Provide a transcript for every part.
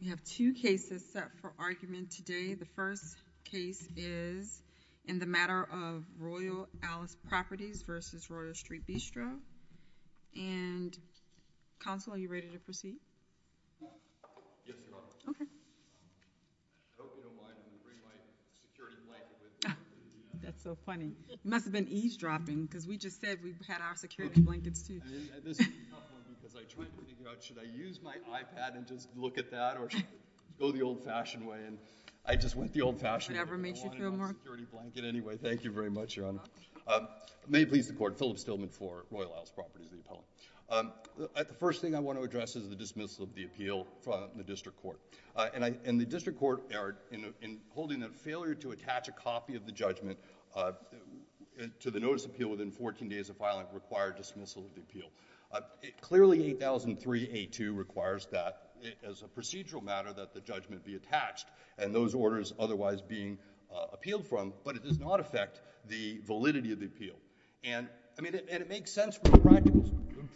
We have two cases set for argument today. The first case is in the matter of Royal Alice Properties v. Royal Street Bistro. And counsel, are you ready to proceed? Yes, Your Honor. Okay. I don't know why I didn't bring my security blanket with me. That's so funny. It must have been eavesdropping, because we just said we've had our security blankets too. This is a tough one because I tried to figure out should I use my iPad and just look at that or should I go the old-fashioned way? And I just went the old-fashioned way. Whatever makes you feel more. I wanted a security blanket anyway. Thank you very much, Your Honor. May it please the court, Philip Stillman for Royal Alice Properties v. Apollo. The first thing I want to address is the dismissal of the appeal from the district court. And the district court, in holding a failure to attach a copy of the judgment to the notice appeal within 14 days of filing, required dismissal of the appeal. Clearly, 8003A2 requires that, as a procedural matter, that the judgment be attached and those orders otherwise being appealed from, but it does not affect the validity of the appeal. And it makes sense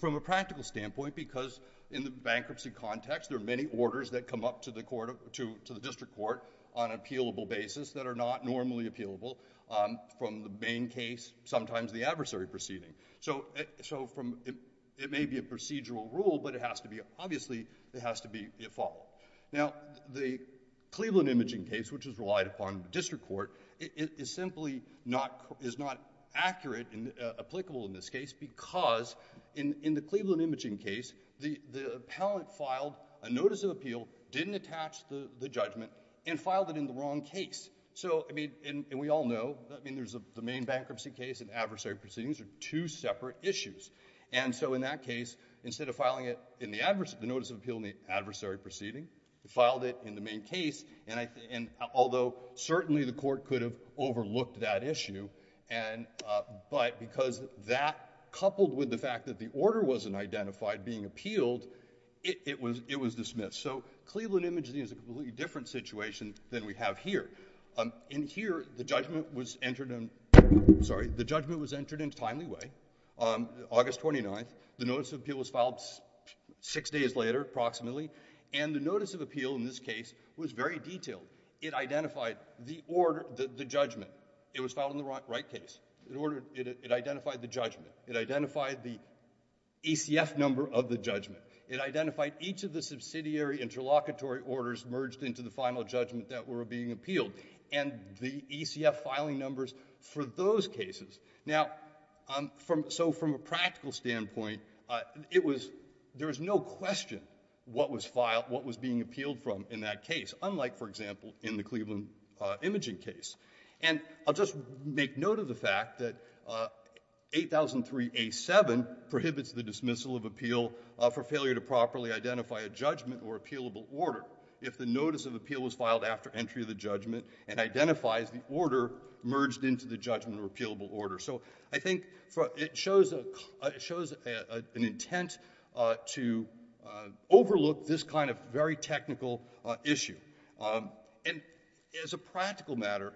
from a practical standpoint because in the bankruptcy context, there are many orders that come up to the district court on an appealable basis that are not normally appealable from the main case, sometimes the adversary proceeding. So, it may be a procedural rule, but it has to be, obviously, it has to be a follow-up. Now, the Cleveland Imaging case, which is relied upon the district court, it is simply not accurate and applicable in this case because in the Cleveland Imaging case, the appellant filed a notice of appeal, didn't attach the judgment, and filed it in the wrong case. So, I mean, and we all know, I mean, there's the main bankruptcy case and adversary proceedings are two separate issues. And so, in that case, instead of filing it in the notice of appeal in the adversary proceeding, he filed it in the main case, and although certainly the court could have overlooked that issue, but because that coupled with the fact that the order wasn't identified being appealed, it was dismissed. So, Cleveland Imaging is a completely different situation than we have here. In here, the judgment was entered in, sorry, the judgment was entered in a timely way, August 29th, the notice of appeal was filed six days later, approximately, and the notice of appeal in this case was very detailed. It identified the order, the judgment. It was filed in the right case. It identified the judgment. It identified the ECF number of the judgment. It identified each of the subsidiary interlocutory orders merged into the final judgment that were being appealed, and the ECF filing numbers for those cases. Now, so from a practical standpoint, there's no question what was being appealed from in that case, unlike, for example, in the Cleveland Imaging case. And I'll just make note of the fact that 8003A7 prohibits the dismissal of appeal for failure to properly identify a judgment or appealable order. If the notice of appeal was filed after entry of the judgment, it identifies the order merged into the judgment or appealable order. So I think it shows an intent to overlook this kind of very technical issue. And as a practical matter,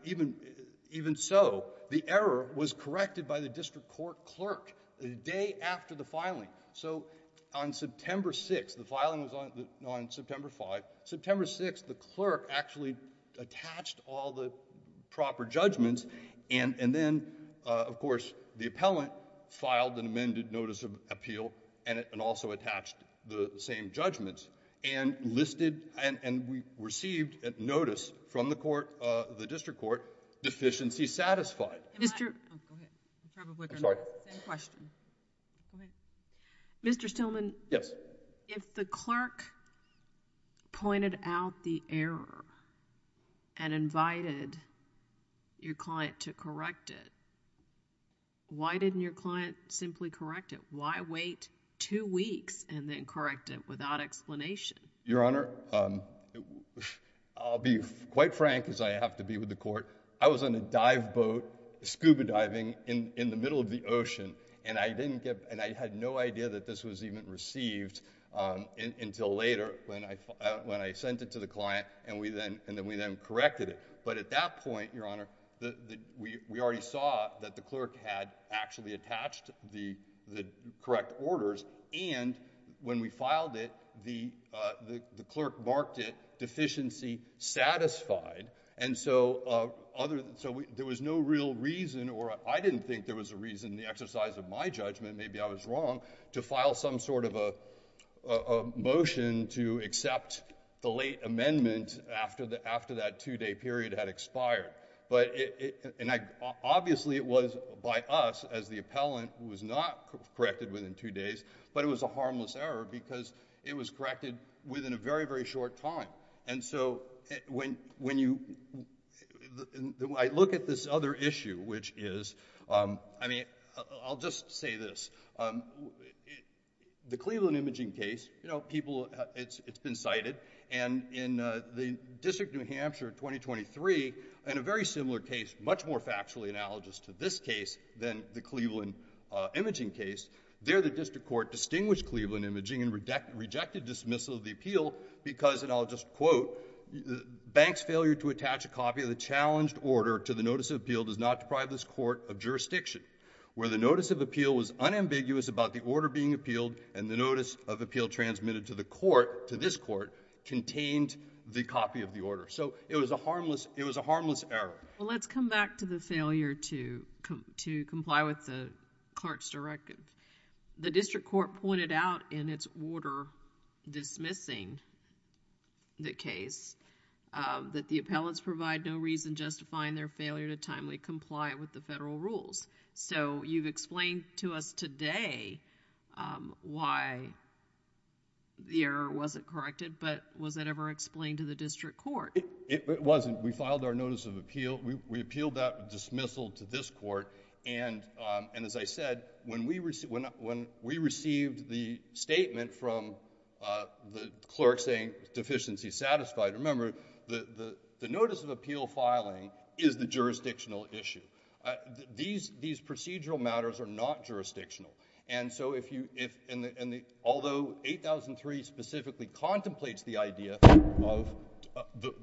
even so, the error was corrected by the district court clerk the day after the filing. So on September 6th, the filing was on September 5th. September 6th, the clerk actually attached all the proper judgments. And then, of course, the appellant filed an amended notice of appeal and also attached the same judgments. And listed, and we received notice from the court, the district court, deficiency satisfied. Mr. Oh, go ahead. I'm sorry. Same question. Mr. Stillman. Yes. If the clerk pointed out the error and invited your client to correct it, why didn't your client simply correct it? Why wait two weeks and then correct it without explanation? Your Honor, I'll be quite frank as I have to be with the court. I was on a dive boat, scuba diving in the middle of the ocean, and I didn't get, and I had no idea that this was even received until later when I sent it to the client, and then we then corrected it. But at that point, Your Honor, we already saw that the clerk had actually attached the correct orders, and when we filed it, the clerk marked it deficiency satisfied. And so there was no real reason, or I didn't think there was a reason in the exercise of my judgment, maybe I was wrong, to file some sort of a motion to accept the late amendment after that two-day period had expired. But, and obviously it was by us as the appellant who was not corrected within two days, but it was a harmless error because it was corrected within a very, very short time. And so when you, I look at this other issue, which is, I mean, I'll just say this. The Cleveland imaging case, you know, people, it's been cited, and in the District of New Hampshire in 2023, in a very similar case, much more factually analogous to this case than the Cleveland imaging case, there the district court distinguished Cleveland imaging and rejected dismissal of the appeal because, and I'll just quote, bank's failure to attach a copy of the challenged order to the notice of appeal does not deprive this court of jurisdiction, where the notice of appeal was unambiguous about the order being appealed and the notice of appeal transmitted to the court, to this court, contained the copy of the order. So it was a harmless error. Well, let's come back to the failure to comply with the clerk's directive. The district court pointed out in its order dismissing the case that the appellants provide no reason justifying their failure to timely comply with the federal rules. So you've explained to us today why the error wasn't corrected, but was it ever explained to the district court? It wasn't. We filed our notice of appeal, we appealed that dismissal to this court, and as I said, when we received the statement from the clerk saying deficiency satisfied, remember, the notice of appeal filing is the jurisdictional issue. These procedural matters are not jurisdictional. And so, although 8003 specifically contemplates the idea of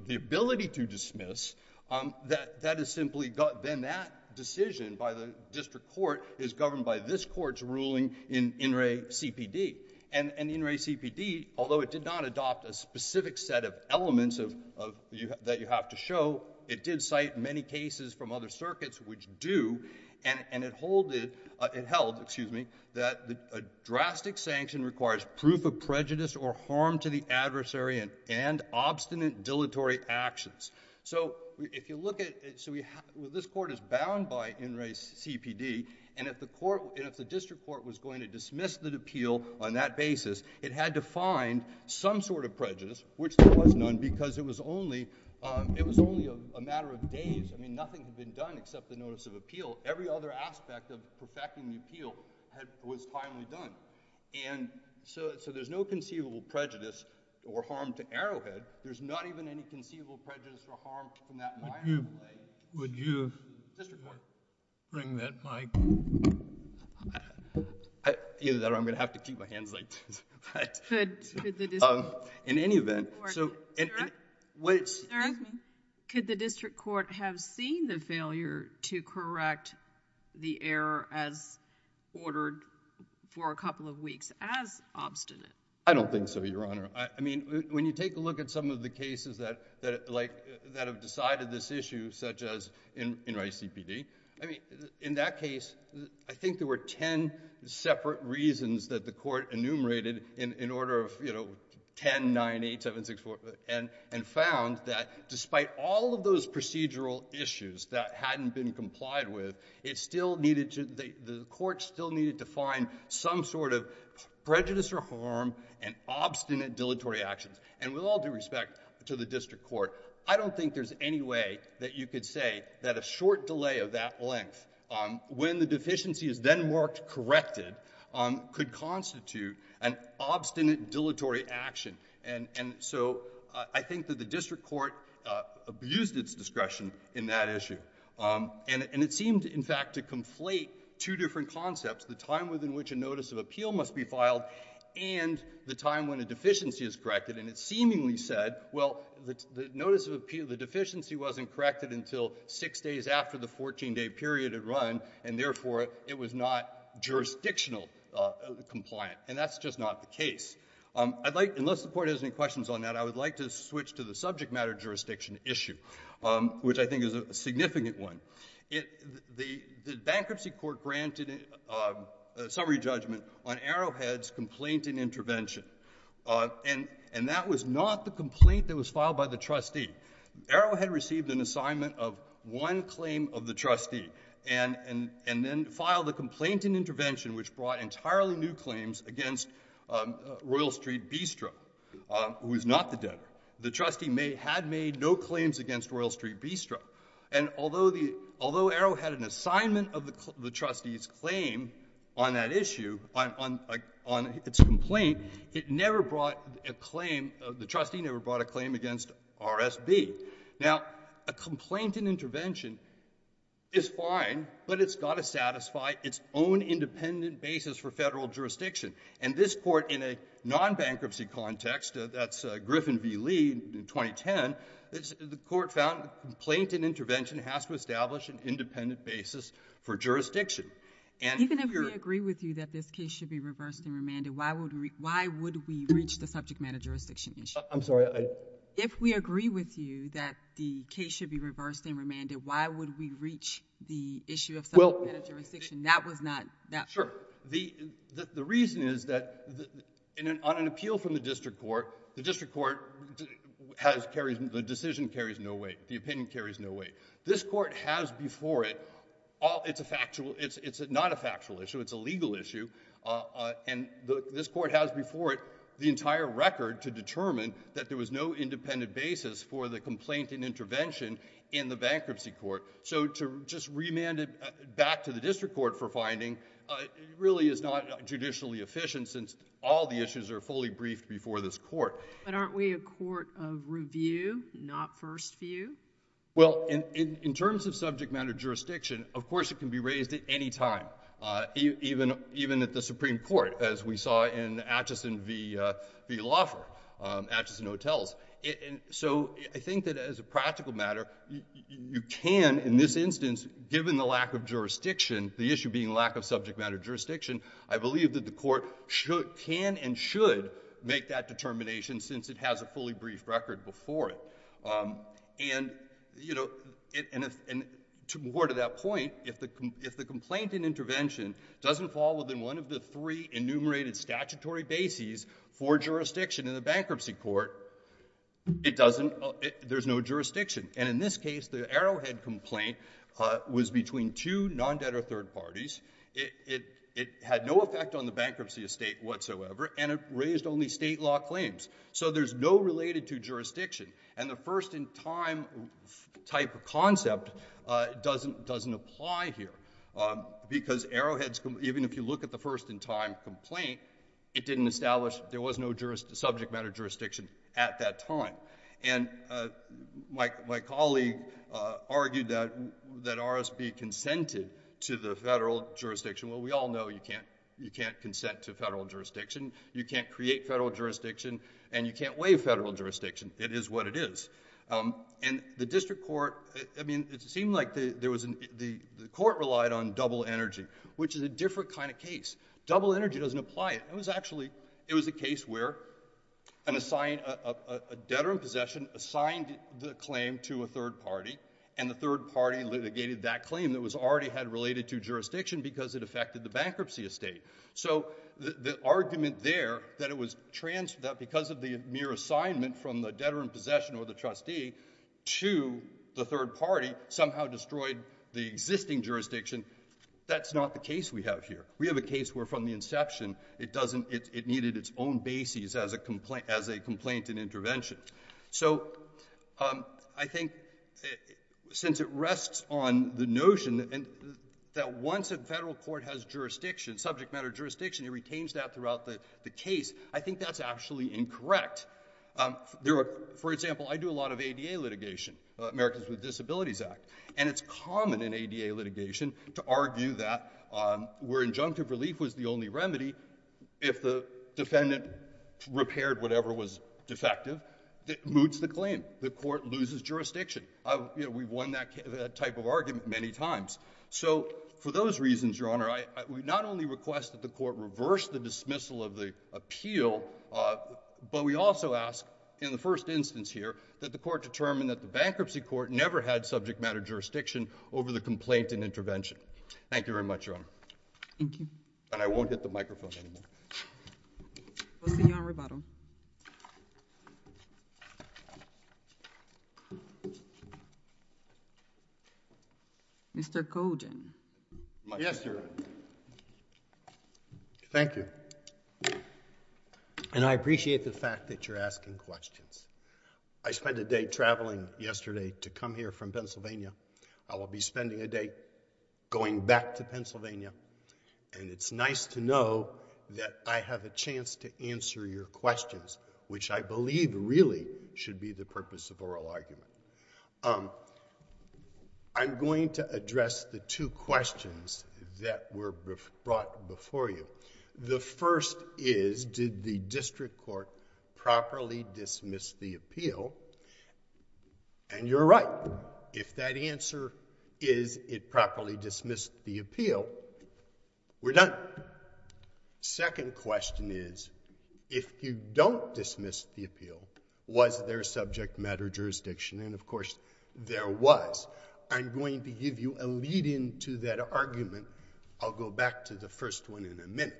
the ability to dismiss, that is simply, then that decision by the district court is governed by this court's ruling in in re CPD. And in re CPD, although it did not adopt a specific set of elements that you have to show, it did cite many cases from other circuits which do, and it held, excuse me, that a drastic sanction requires proof of prejudice or harm to the adversary and obstinate dilatory actions. So if you look at, so this court is bound by in re CPD, and if the district court was going to dismiss the appeal on that basis, it had to find some sort of prejudice, which there was none, because it was only, it was only a matter of days. I mean, nothing had been done except the notice of appeal. Every other aspect of perfecting the appeal was finally done. And so there's no conceivable prejudice or harm to Arrowhead. There's not even any conceivable prejudice or harm in that minor way. Would you bring that back? Either that or I'm going to have to keep my hands like this. In any event, so, could the district court have seen the failure to correct the error as ordered for a couple of weeks as obstinate? I don't think so, Your Honor. I mean, when you take a look at some of the cases that have decided this issue, such as in re CPD, I mean, in that case, I think there were 10 separate reasons that the court enumerated in order of, you know, 10, nine, eight, seven, six, four, and found that despite all of those procedural issues that hadn't been complied with, it still needed to, the court still needed to find some sort of prejudice or harm and obstinate dilatory actions. And with all due respect to the district court, I don't think there's any way that you could say that a short delay of that length when the deficiency is then marked corrected could constitute an obstinate dilatory action. And so I think that the district court abused its discretion in that issue. And it seemed, in fact, to conflate two different concepts, the time within which a notice of appeal must be filed and the time when a deficiency is corrected. And it seemingly said, well, the notice of appeal, the deficiency wasn't corrected until six days after the 14-day period had run, and therefore, it was not jurisdictional compliant. And that's just not the case. I'd like, unless the court has any questions on that, I would like to switch to the subject matter jurisdiction issue, which I think is a significant one. The bankruptcy court granted a summary judgment on Arrowhead's complaint and intervention. And that was not the complaint that was filed by the trustee. Arrowhead received an assignment of one claim of the trustee and then filed a complaint and intervention which brought entirely new claims against Royal Street Bistro, who is not the debtor. The trustee had made no claims against Royal Street Bistro. And although Arrowhead had an assignment of the trustee's claim on that issue, on its complaint, it never brought a claim, the trustee never brought a claim against RSB. Now, a complaint and intervention is fine, but it's gotta satisfy its own independent basis for federal jurisdiction. And this court, in a non-bankruptcy context, that's Griffin v. Lee in 2010, the court found a complaint and intervention has to establish an independent basis for jurisdiction. And here- Even if we agree with you that this case should be reversed and remanded, why would we reach the subject matter jurisdiction issue? I'm sorry, I- If we agree with you that the case should be reversed and remanded, why would we reach the issue of subject matter jurisdiction? That was not- Sure, the reason is that on an appeal from the district court, the district court has carried, the decision carries no weight, the opinion carries no weight. This court has before it, it's not a factual issue, it's a legal issue, and this court has before it the entire record to determine that there was no independent basis for the complaint and intervention in the bankruptcy court. So to just remand it back to the district court for finding, really is not judicially efficient since all the issues are fully briefed before this court. But aren't we a court of review, not first view? Well, in terms of subject matter jurisdiction, of course it can be raised at any time, even at the Supreme Court, as we saw in Atchison v. Loeffer, Atchison Hotels. So I think that as a practical matter, you can, in this instance, given the lack of jurisdiction, the issue being lack of subject matter jurisdiction, I believe that the court can and should make that determination since it has a fully briefed record before it. And to more to that point, if the complaint and intervention doesn't fall within one of the three enumerated statutory bases for jurisdiction in the bankruptcy court, it doesn't, there's no jurisdiction. And in this case, the Arrowhead complaint was between two non-debtor third parties. It had no effect on the bankruptcy estate whatsoever, and it raised only state law claims. So there's no related to jurisdiction. And the first in time type of concept doesn't apply here. Because Arrowhead's, even if you look at the first in time complaint, it didn't establish, there was no subject matter jurisdiction at that time. And my colleague argued that RSB consented to the federal jurisdiction. Well, we all know you can't consent to federal jurisdiction. You can't create federal jurisdiction, and you can't waive federal jurisdiction. It is what it is. And the district court, I mean, it seemed like the court relied on double energy, which is a different kind of case. Double energy doesn't apply. It was actually, it was a case where a debtor in possession assigned the claim to a third party, and the third party litigated that claim that was already had related to jurisdiction because it affected the bankruptcy estate. So the argument there that it was trans, that because of the mere assignment from the debtor in possession or the trustee to the third party, somehow destroyed the existing jurisdiction, that's not the case we have here. We have a case where from the inception, it doesn't, it needed its own basis as a complaint, as a complaint and intervention. So I think since it rests on the notion that once a federal court has jurisdiction, subject matter jurisdiction, it retains that throughout the case. I think that's actually incorrect. There are, for example, I do a lot of ADA litigation, Americans with Disabilities Act, and it's common in ADA litigation to argue that where injunctive relief was the only remedy, if the defendant repaired whatever was defective, that moots the claim. The court loses jurisdiction. We've won that type of argument many times. So for those reasons, your honor, I would not only request that the court reverse the dismissal of the appeal, but we also ask in the first instance here, that the court determine that the bankruptcy court never had subject matter jurisdiction over the complaint and intervention. Thank you very much, your honor. Thank you. And I won't hit the microphone anymore. We'll see you on rebuttal. Mr. Cogen. Yes, your honor. Thank you. And I appreciate the fact that you're asking questions. I spent a day traveling yesterday to come here from Pennsylvania. I will be spending a day going back to Pennsylvania. And it's nice to know that I have a chance to answer your questions, which I believe really should be the purpose of oral argument. I'm going to address the two questions that were brought before you. The first is, did the district court properly dismiss the appeal? And you're right. If that answer is it properly dismissed the appeal, we're done. Second question is, if you don't dismiss the appeal, was there subject matter jurisdiction? And of course, there was. I'm going to give you a lead in to that argument. I'll go back to the first one in a minute.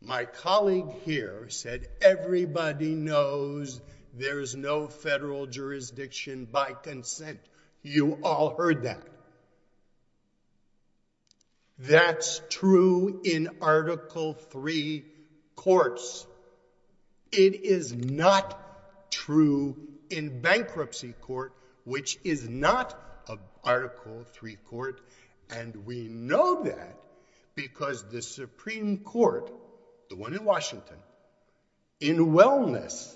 My colleague here said, everybody knows there's no federal jurisdiction by consent. You all heard that. That's true in Article III courts. It is not true in bankruptcy court, which is not an Article III court. And we know that because the Supreme Court, the one in Washington, in wellness,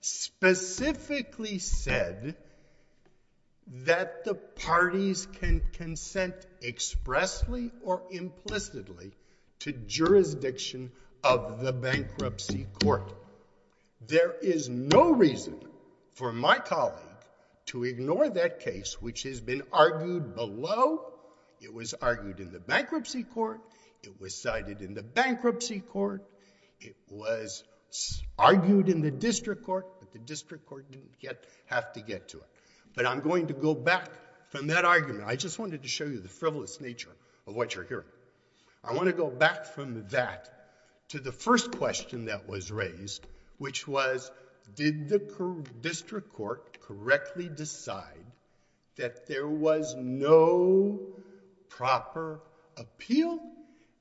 specifically said that the parties can consent expressly or implicitly to jurisdiction of the bankruptcy court. There is no reason for my colleague to ignore that case, which has been argued below. It was argued in the bankruptcy court. It was cited in the bankruptcy court. It was argued in the district court, but the district court didn't have to get to it. But I'm going to go back from that argument. I just wanted to show you the frivolous nature of what you're hearing. I want to go back from that to the first question that was raised, which was, did the district court correctly decide that there was no proper appeal?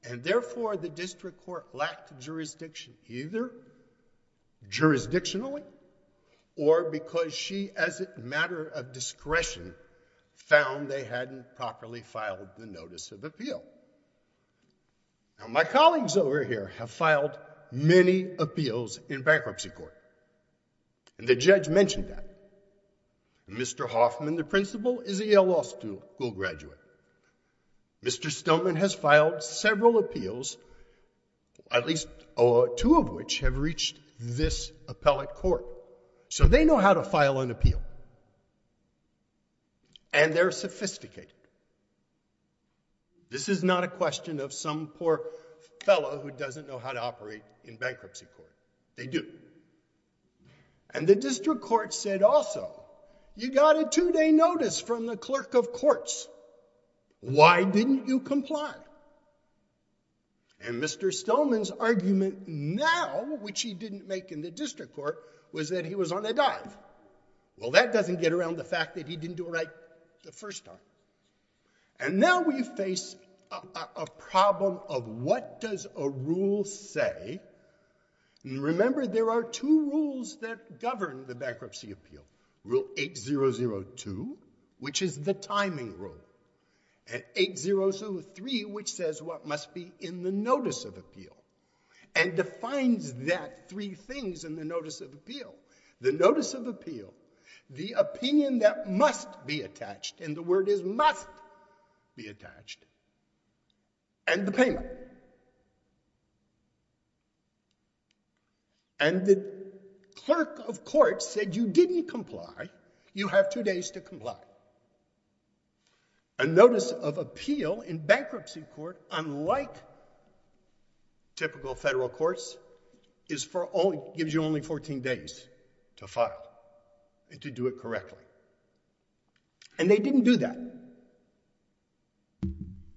And therefore, the district court lacked jurisdiction, either jurisdictionally or because she, as a matter of discretion, found they hadn't properly filed the notice of appeal. Now, my colleagues over here have filed many appeals in bankruptcy court. And the judge mentioned that. Mr. Hoffman, the principal, is a Yale Law School graduate. Mr. Stoneman has filed several appeals, at least two of which have reached this appellate court. So they know how to file an appeal. And they're sophisticated. This is not a question of some poor fellow who doesn't know how to operate in bankruptcy court. They do. And the district court said also, you got a two-day notice from the clerk of courts. Why didn't you comply? And Mr. Stoneman's argument now, which he didn't make in the district court, was that he was on a dive. Well, that doesn't get around the fact that he didn't do it right the first time. And now we face a problem of what does a rule say? And remember, there are two rules that govern the bankruptcy appeal. Rule 8002, which is the timing rule, and 8003, which says what must be in the notice of appeal, and defines that three things in the notice of appeal. The notice of appeal, the opinion that must be attached, and the word is must be attached, and the payment. And the clerk of courts said, you didn't comply. You have two days to comply. A notice of appeal in bankruptcy court, unlike typical federal courts, gives you only 14 days to file, to do it correctly. And they didn't do that.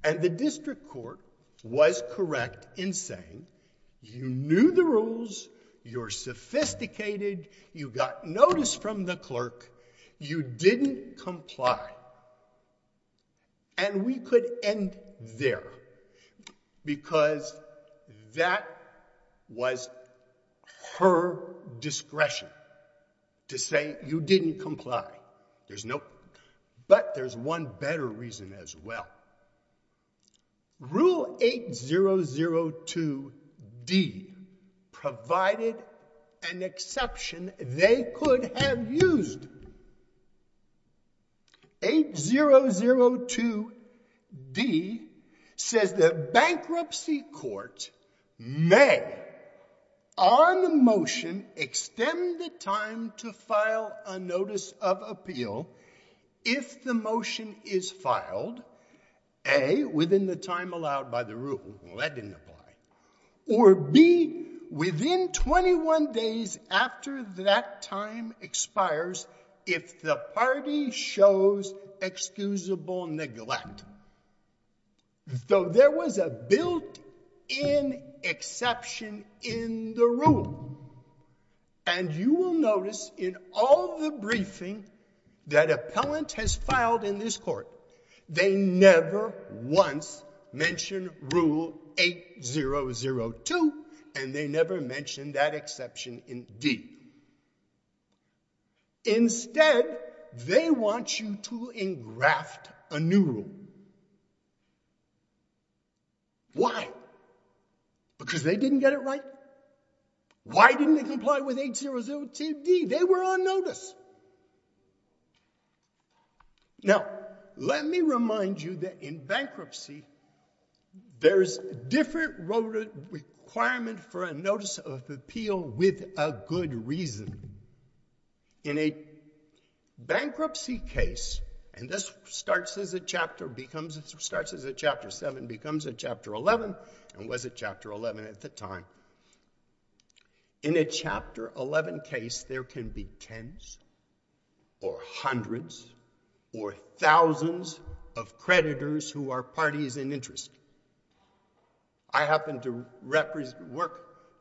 And the district court was correct in saying, you knew the rules, you're sophisticated, you got notice from the clerk, you didn't comply. And we could end there, because that was her discretion to say you didn't comply. There's no, but there's one better reason as well. Rule 8002D provided an exception they could have used. 8002D says the bankruptcy court may, on the motion, extend the time to file a notice of appeal if the motion is filed, A, within the time allowed by the rule, well, that didn't apply, or B, within 21 days after that time expires, if the party shows excusable neglect. So there was a built-in exception in the rule. And you will notice in all the briefing that appellant has filed in this court, they never once mentioned rule 8002, and they never mentioned that exception in D. Instead, they want you to engraft a new rule. Why? Because they didn't get it right. Why didn't they comply with 8002D? They were on notice. Now, let me remind you that in bankruptcy, there's different requirement for a notice of appeal with a good reason. In a bankruptcy case, and this starts as a chapter, becomes, starts as a chapter seven, becomes a chapter 11, and was a chapter 11 at the time. In a chapter 11 case, there can be tens or hundreds or thousands of creditors who are parties in interest. I happen to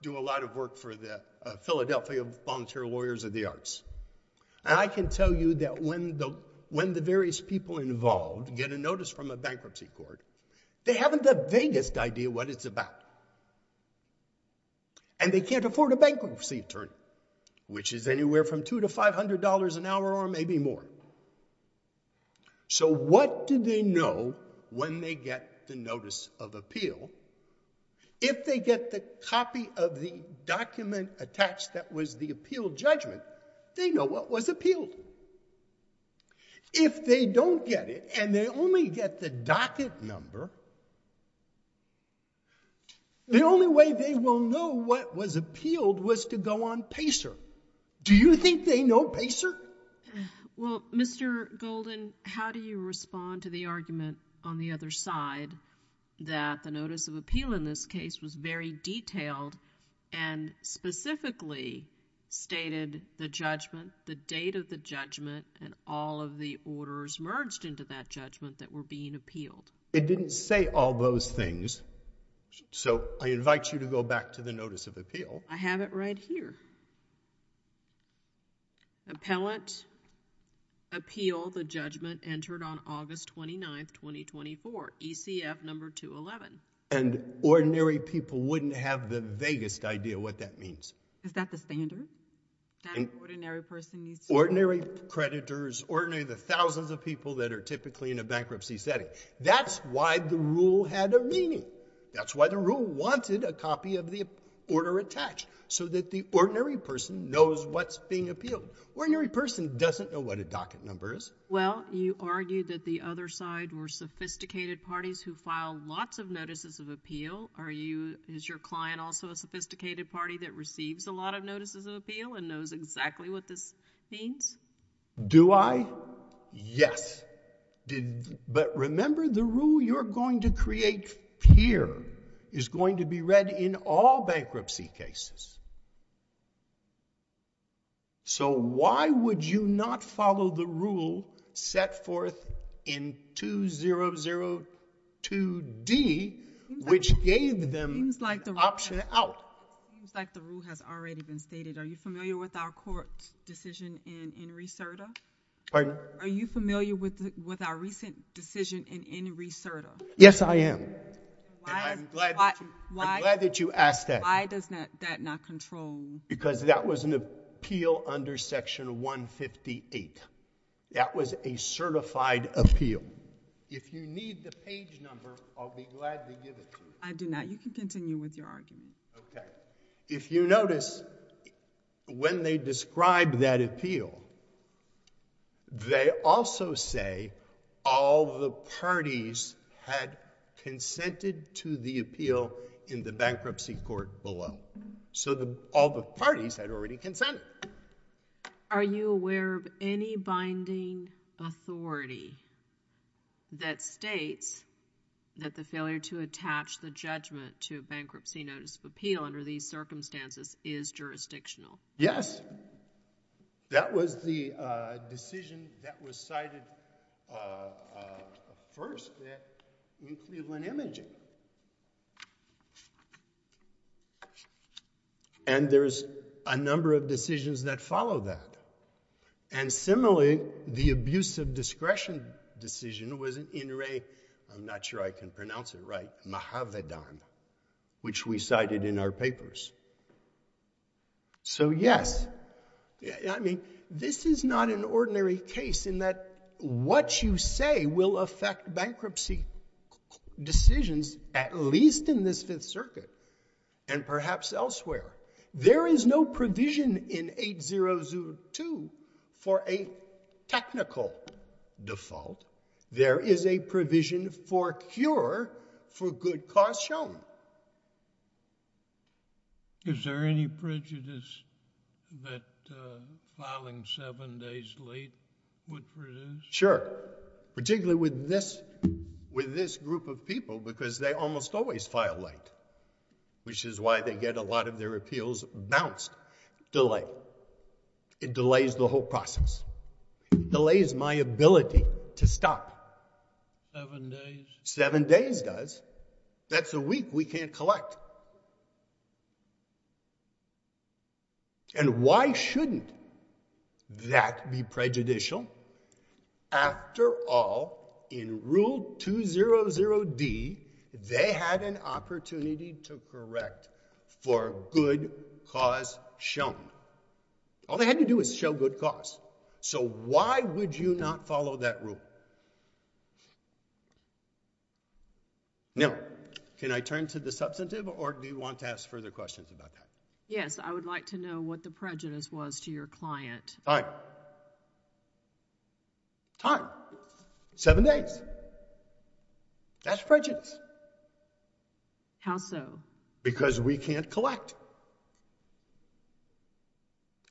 do a lot of work for the Philadelphia Volunteer Lawyers of the Arts. And I can tell you that when the various people involved get a notice from a bankruptcy court, they haven't the vaguest idea what it's about. And they can't afford a bankruptcy attorney, which is anywhere from two to $500 an hour or maybe more. So what do they know when they get the notice of appeal? If they get the copy of the document attached that was the appeal judgment, they know what was appealed. If they don't get it and they only get the docket number, the only way they will know what was appealed was to go on PACER. Do you think they know PACER? Well, Mr. Golden, how do you respond to the argument on the other side that the notice of appeal in this case was very detailed and specifically stated the judgment, the date of the judgment, and all of the orders merged into that judgment that were being appealed? It didn't say all those things. So I invite you to go back to the notice of appeal. I have it right here. Appellant, appeal the judgment entered on August 29th, 2024 ECF number 211. And ordinary people wouldn't have the vaguest idea what that means. Is that the standard? That an ordinary person needs to- Ordinary creditors, ordinary the thousands of people that are typically in a bankruptcy setting. That's why the rule had a meaning. That's why the rule wanted a copy of the order attached so that the ordinary person knows what's being appealed. Ordinary person doesn't know what a docket number is. Well, you argue that the other side were sophisticated parties who filed lots of notices of appeal. Are you, is your client also a sophisticated party that receives a lot of notices of appeal and knows exactly what this means? Do I? Yes. But remember the rule you're going to create here is going to be read in all bankruptcy cases. So why would you not follow the rule set forth in 2002D which gave them option out? Seems like the rule has already been stated. Are you familiar with our court decision in Reserta? Pardon? Are you familiar with our recent decision in Reserta? Yes, I am. And I'm glad that you asked that. Why does that not control? Because that was an appeal under section 158. That was a certified appeal. If you need the page number, I'll be glad to give it to you. I do not. You can continue with your argument. Okay. If you notice, when they describe that appeal, they also say all the parties had consented to the appeal in the bankruptcy court below. So all the parties had already consented. Are you aware of any binding authority that states that the failure to attach the judgment to a bankruptcy notice of appeal under these circumstances is jurisdictional? Yes. And that was the decision that was cited first there in Cleveland Imaging. And there's a number of decisions that follow that. And similarly, the abuse of discretion decision was in Ray, I'm not sure I can pronounce it right, Mahavedan, which we cited in our papers. So yes, I mean, this is not an ordinary case in that what you say will affect bankruptcy decisions, at least in this Fifth Circuit, and perhaps elsewhere. There is no provision in 8002 for a technical default. There is a provision for a cure for good cause shown. Is there any prejudice that filing seven days late would produce? Sure, particularly with this group of people, because they almost always file late, which is why they get a lot of their appeals bounced. Delay, it delays the whole process. Delays my ability to stop. Seven days? Seven days does. That's a week we can't collect. And why shouldn't that be prejudicial? After all, in Rule 200D, they had an opportunity to correct for good cause shown. All they had to do is show good cause. So why would you not follow that rule? Now, can I turn to the substantive, or do you want to ask further questions about that? Yes, I would like to know what the prejudice was to your client. Time. Time. Seven days. That's prejudice. How so? Because we can't collect.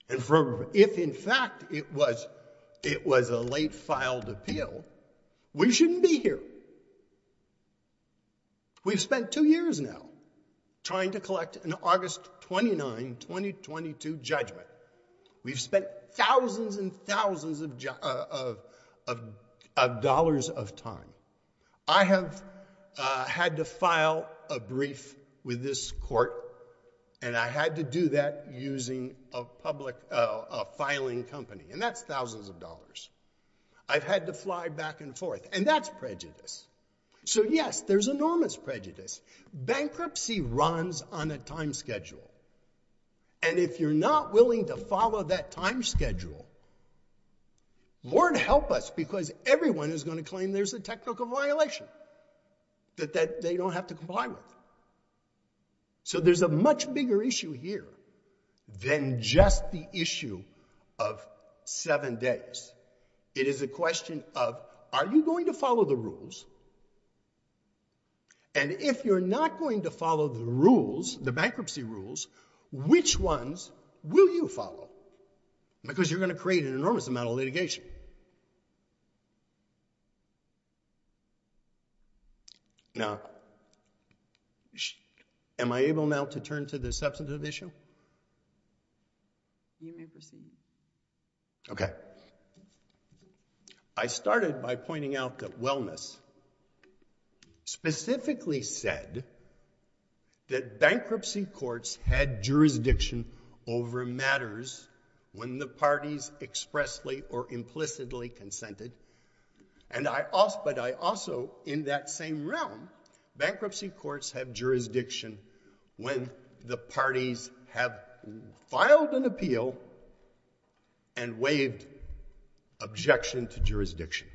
And if in fact it was a late filed appeal, we shouldn't be here. We've spent two years now trying to collect an August 29, 2022 judgment. We've spent thousands and thousands of dollars of time. I have had to file a brief with this court, and I had to do that using a filing company, and that's thousands of dollars. I've had to fly back and forth, and that's prejudice. So yes, there's enormous prejudice. Bankruptcy runs on a time schedule, and if you're not willing to follow that time schedule, Lord help us, because everyone is going to claim there's a technical violation that they don't have to comply with. So there's a much bigger issue here than just the issue of seven days. It is a question of, are you going to follow the rules? And if you're not going to follow the rules, the bankruptcy rules, which ones will you follow? Because you're going to create an enormous amount of litigation. Now, am I able now to turn to the substantive issue? You may proceed now. Okay. I started by pointing out that wellness specifically said that bankruptcy courts had jurisdiction over matters when the parties expressly or implicitly consented, but I also, in that same realm, bankruptcy courts have jurisdiction when the parties have filed an appeal and waived objection to jurisdiction.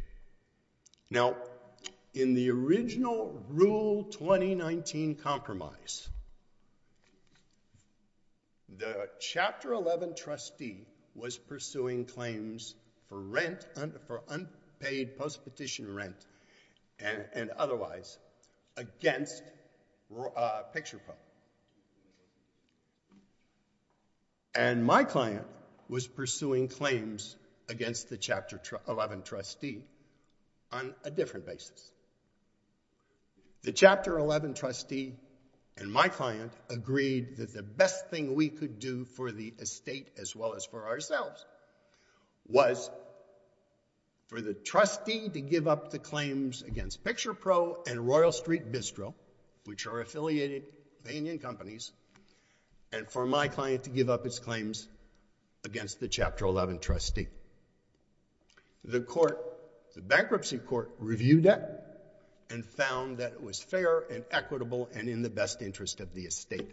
Now, in the original Rule 2019 Compromise, the Chapter 11 trustee was pursuing claims for unpaid post-petition rent and otherwise against Picture Pro. And my client was pursuing claims against the Chapter 11 trustee on a different basis. The Chapter 11 trustee and my client agreed that the best thing we could do for the estate as well as for ourselves was for the trustee to give up the claims against Picture Pro and Royal Street Bistro, which are affiliated with Indian companies, and for my client to give up its claims against the Chapter 11 trustee. The bankruptcy court reviewed that and found that it was fair and equitable and in the best interest of the estate.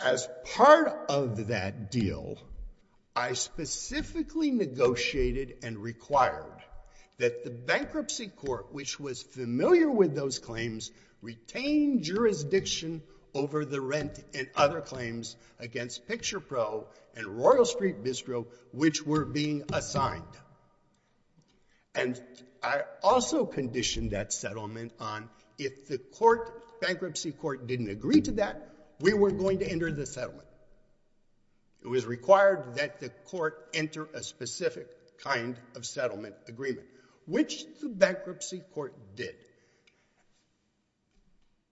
As part of that deal, I specifically negotiated and required that the bankruptcy court, which was familiar with those claims, retain jurisdiction over the rent and other claims against Picture Pro and Royal Street Bistro, which were being assigned. And I also conditioned that settlement on if the bankruptcy court didn't agree to that, we weren't going to enter the settlement. It was required that the court enter a specific kind of settlement agreement, which the bankruptcy court did.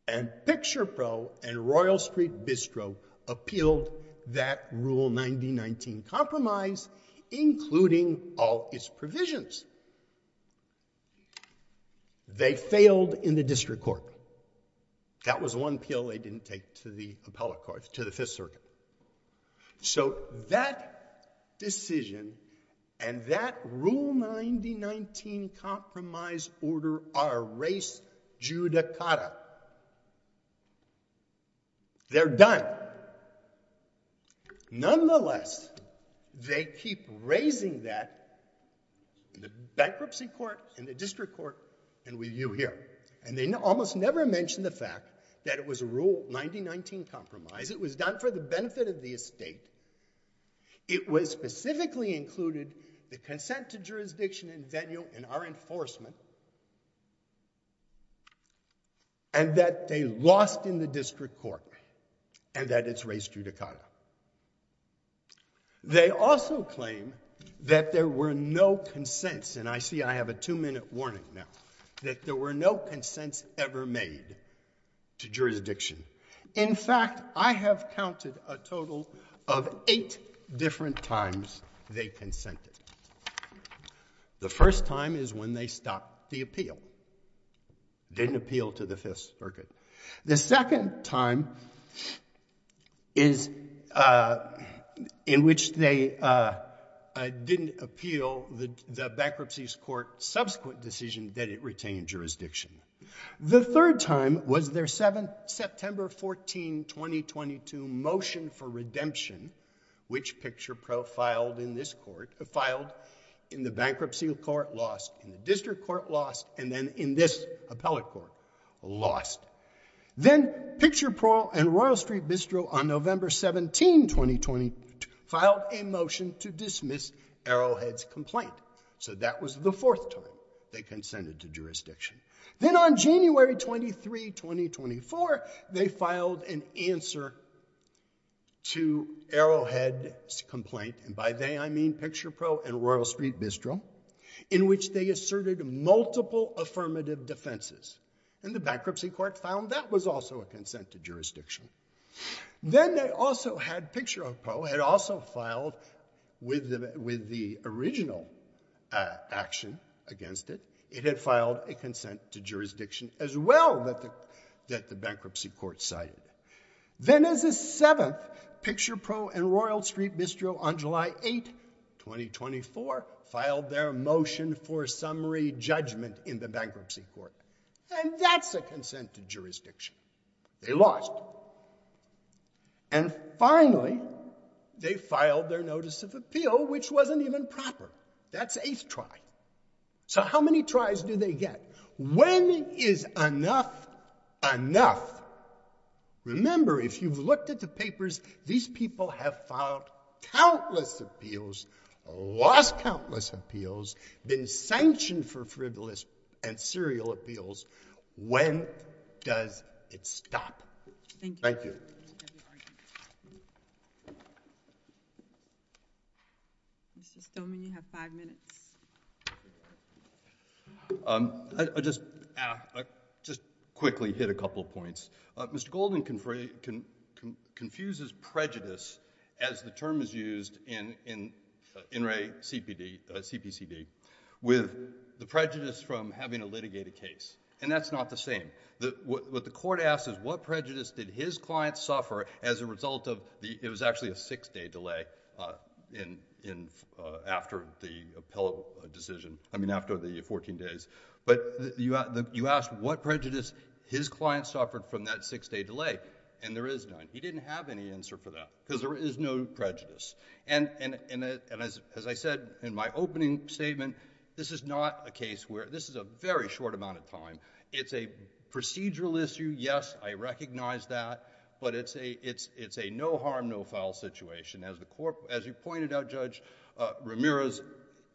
And Picture Pro and Royal Street Bistro appealed that Rule 9019 compromise, including all its provisions. They failed in the district court. That was one appeal they didn't take to the appellate court, to the Fifth Circuit. So that decision and that Rule 9019 compromise order are res judicata. They're done. Nonetheless, they keep raising that in the bankruptcy court, in the district court, and with you here. And they almost never mention the fact that it was a Rule 9019 compromise. It was done for the benefit of the estate. It specifically included the consent to jurisdiction in venue in our enforcement. And that they lost in the district court. And that it's res judicata. They also claim that there were no consents. And I see I have a two-minute warning now. That there were no consents ever made to jurisdiction. In fact, I have counted a total of eight different times they consented. The first time is when they stopped the appeal. Didn't appeal to the Fifth Circuit. The second time is in which they didn't appeal the bankruptcy's court subsequent decision that it retained jurisdiction. The third time was their September 14, 2022 motion for redemption, which Picture Pro filed in this court, filed in the bankruptcy court, lost. In the district court, lost. And then in this appellate court, lost. Then Picture Pro and Royal Street Bistro on November 17, 2020, filed a motion to dismiss Arrowhead's complaint. So that was the fourth time they consented to jurisdiction. Then on January 23, 2024, they filed an answer to Arrowhead's complaint. And by they, I mean Picture Pro and Royal Street Bistro, in which they asserted multiple affirmative defenses. And the bankruptcy court found that was also a consent to jurisdiction. Then they also had Picture Pro had also filed with the original action against it. It had filed a consent to jurisdiction as well that the bankruptcy court cited. Then as a seventh, Picture Pro and Royal Street Bistro on July 8, 2024, filed their motion for summary judgment in the bankruptcy court. And that's a consent to jurisdiction. They lost. And finally, they filed their notice of appeal, which wasn't even proper. That's eighth try. So how many tries do they get? When is enough enough? Remember, if you've looked at the papers, these people have filed countless appeals, lost countless appeals, been sanctioned for frivolous and serial appeals. When does it stop? Thank you. Mr. Stoneman, you have five minutes. I just quickly hit a couple of points. Mr. Golden confuses prejudice, as the term is used in In Re CPCD, with the prejudice from having a litigated case. And that's not the same. What the court asks is, what prejudice did his client suffer as a result of the, it was actually a six-day delay after the appellate decision, I mean, after the 14 days. But you asked what prejudice his client suffered from that six-day delay, and there is none. He didn't have any answer for that, because there is no prejudice. And as I said in my opening statement, this is not a case where, this is a very short amount of time. It's a procedural issue. Yes, I recognize that. But it's a no harm, no foul situation. As you pointed out, Judge Ramirez,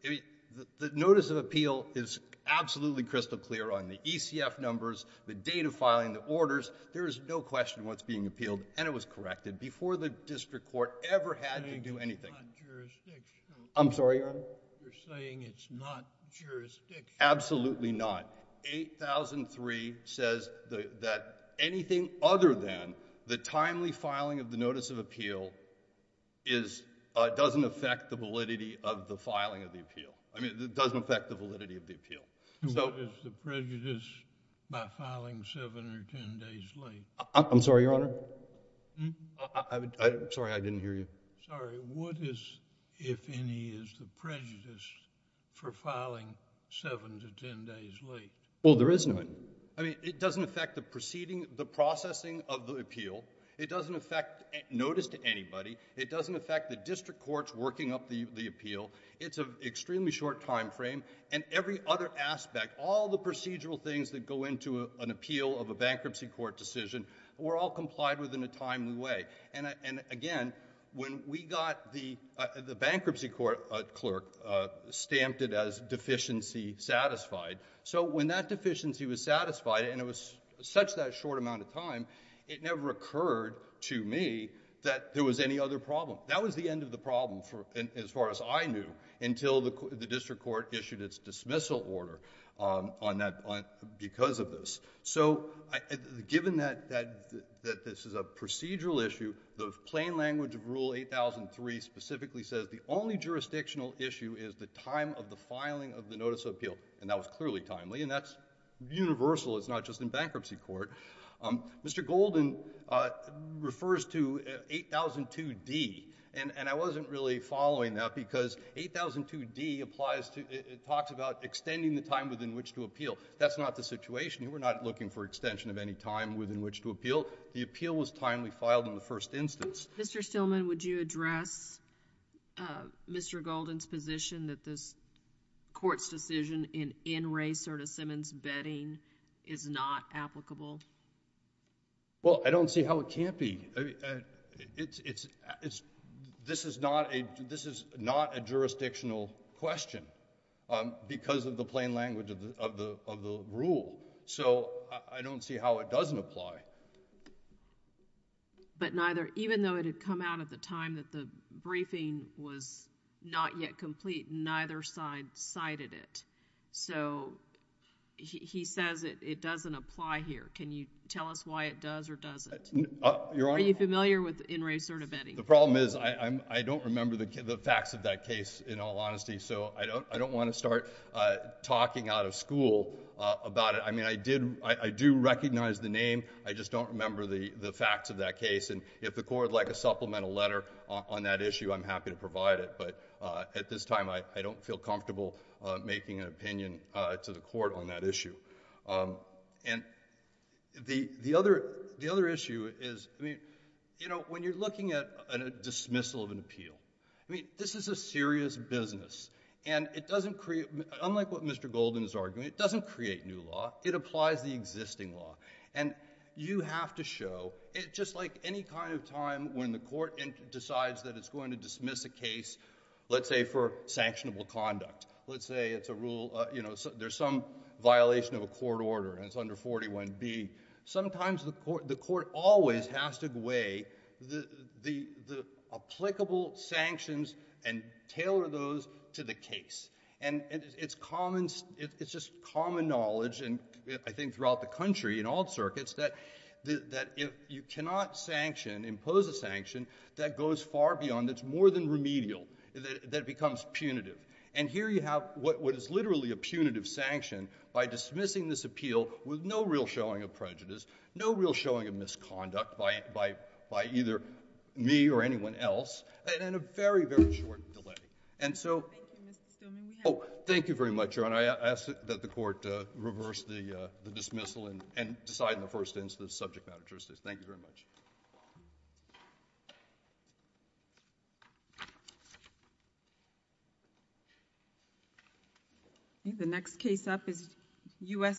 the notice of appeal is absolutely crystal clear on the ECF numbers, the date of filing, the orders. There is no question what's being appealed, and it was corrected before the district court ever had to do anything. You're saying it's not jurisdictional. I'm sorry, Your Honor? You're saying it's not jurisdictional. Absolutely not. 8003 says that anything other than the timely filing of the notice of appeal doesn't affect the validity of the filing of the appeal. I mean, it doesn't affect the validity of the appeal. And what is the prejudice by filing seven or 10 days late? I'm sorry, Your Honor? Sorry, I didn't hear you. Sorry, what is, if any, is the prejudice for filing seven to 10 days late? Well, there is none. I mean, it doesn't affect the proceeding, the processing of the appeal. It doesn't affect notice to anybody. It doesn't affect the district courts working up the appeal. It's an extremely short timeframe. And every other aspect, all the procedural things that go into an appeal of a bankruptcy court decision were all complied with in a timely way. And again, when we got the bankruptcy court clerk stamped it as deficiency satisfied. So when that deficiency was satisfied, and it was such that short amount of time, it never occurred to me that there was any other problem. That was the end of the problem, as far as I knew, until the district court issued its dismissal order because of this. So given that this is a procedural issue, the plain language of Rule 8003 specifically says the only jurisdictional issue is the time of the filing of the notice of appeal. And that was clearly timely. And that's universal. It's not just in bankruptcy court. Mr. Golden refers to 8002D. And I wasn't really following that because 8002D applies to, it talks about extending the time within which to appeal. That's not the situation. We're not looking for extension of any time within which to appeal. The appeal was timely filed in the first instance. Mr. Stillman, would you address Mr. Golden's position that this court's decision in N. Ray Serta-Simmons' bedding is not applicable? Well, I don't see how it can't be. This is not a jurisdictional question because of the plain language of the rule. So I don't see how it doesn't apply. But neither, even though it had come out at the time that the briefing was not yet complete, neither side cited it. So he says it doesn't apply here. Can you tell us why it does or doesn't? Your Honor. Are you familiar with N. Ray Serta-Bedding? The problem is I don't remember the facts of that case in all honesty. So I don't wanna start talking out of school about it. I mean, I do recognize the name. I just don't remember the facts of that case. And if the court would like a supplemental letter on that issue, I'm happy to provide it. But at this time, I don't feel comfortable making an opinion to the court on that issue. And the other issue is, I mean, you know, when you're looking at a dismissal of an appeal, I mean, this is a serious business. And it doesn't create, unlike what Mr. Golden is arguing, it doesn't create new law. It applies the existing law. And you have to show, just like any kind of time when the court decides that it's going to dismiss a case, let's say for sanctionable conduct. Let's say it's a rule, you know, there's some violation of a court order, and it's under 41B. Sometimes the court always has to weigh the applicable sanctions and tailor those to the case. And it's just common knowledge, and I think throughout the country, in all circuits, that if you cannot sanction, impose a sanction, that goes far beyond, it's more than remedial, that it becomes punitive. And here you have what is literally a punitive sanction by dismissing this appeal with no real showing of prejudice, no real showing of misconduct by either me or anyone else, and in a very, very short delay. And so, oh, thank you very much, Your Honor. I ask that the court reverse the dismissal and decide on the first instance subject matter justice. Thank you very much. The next case up is U.S.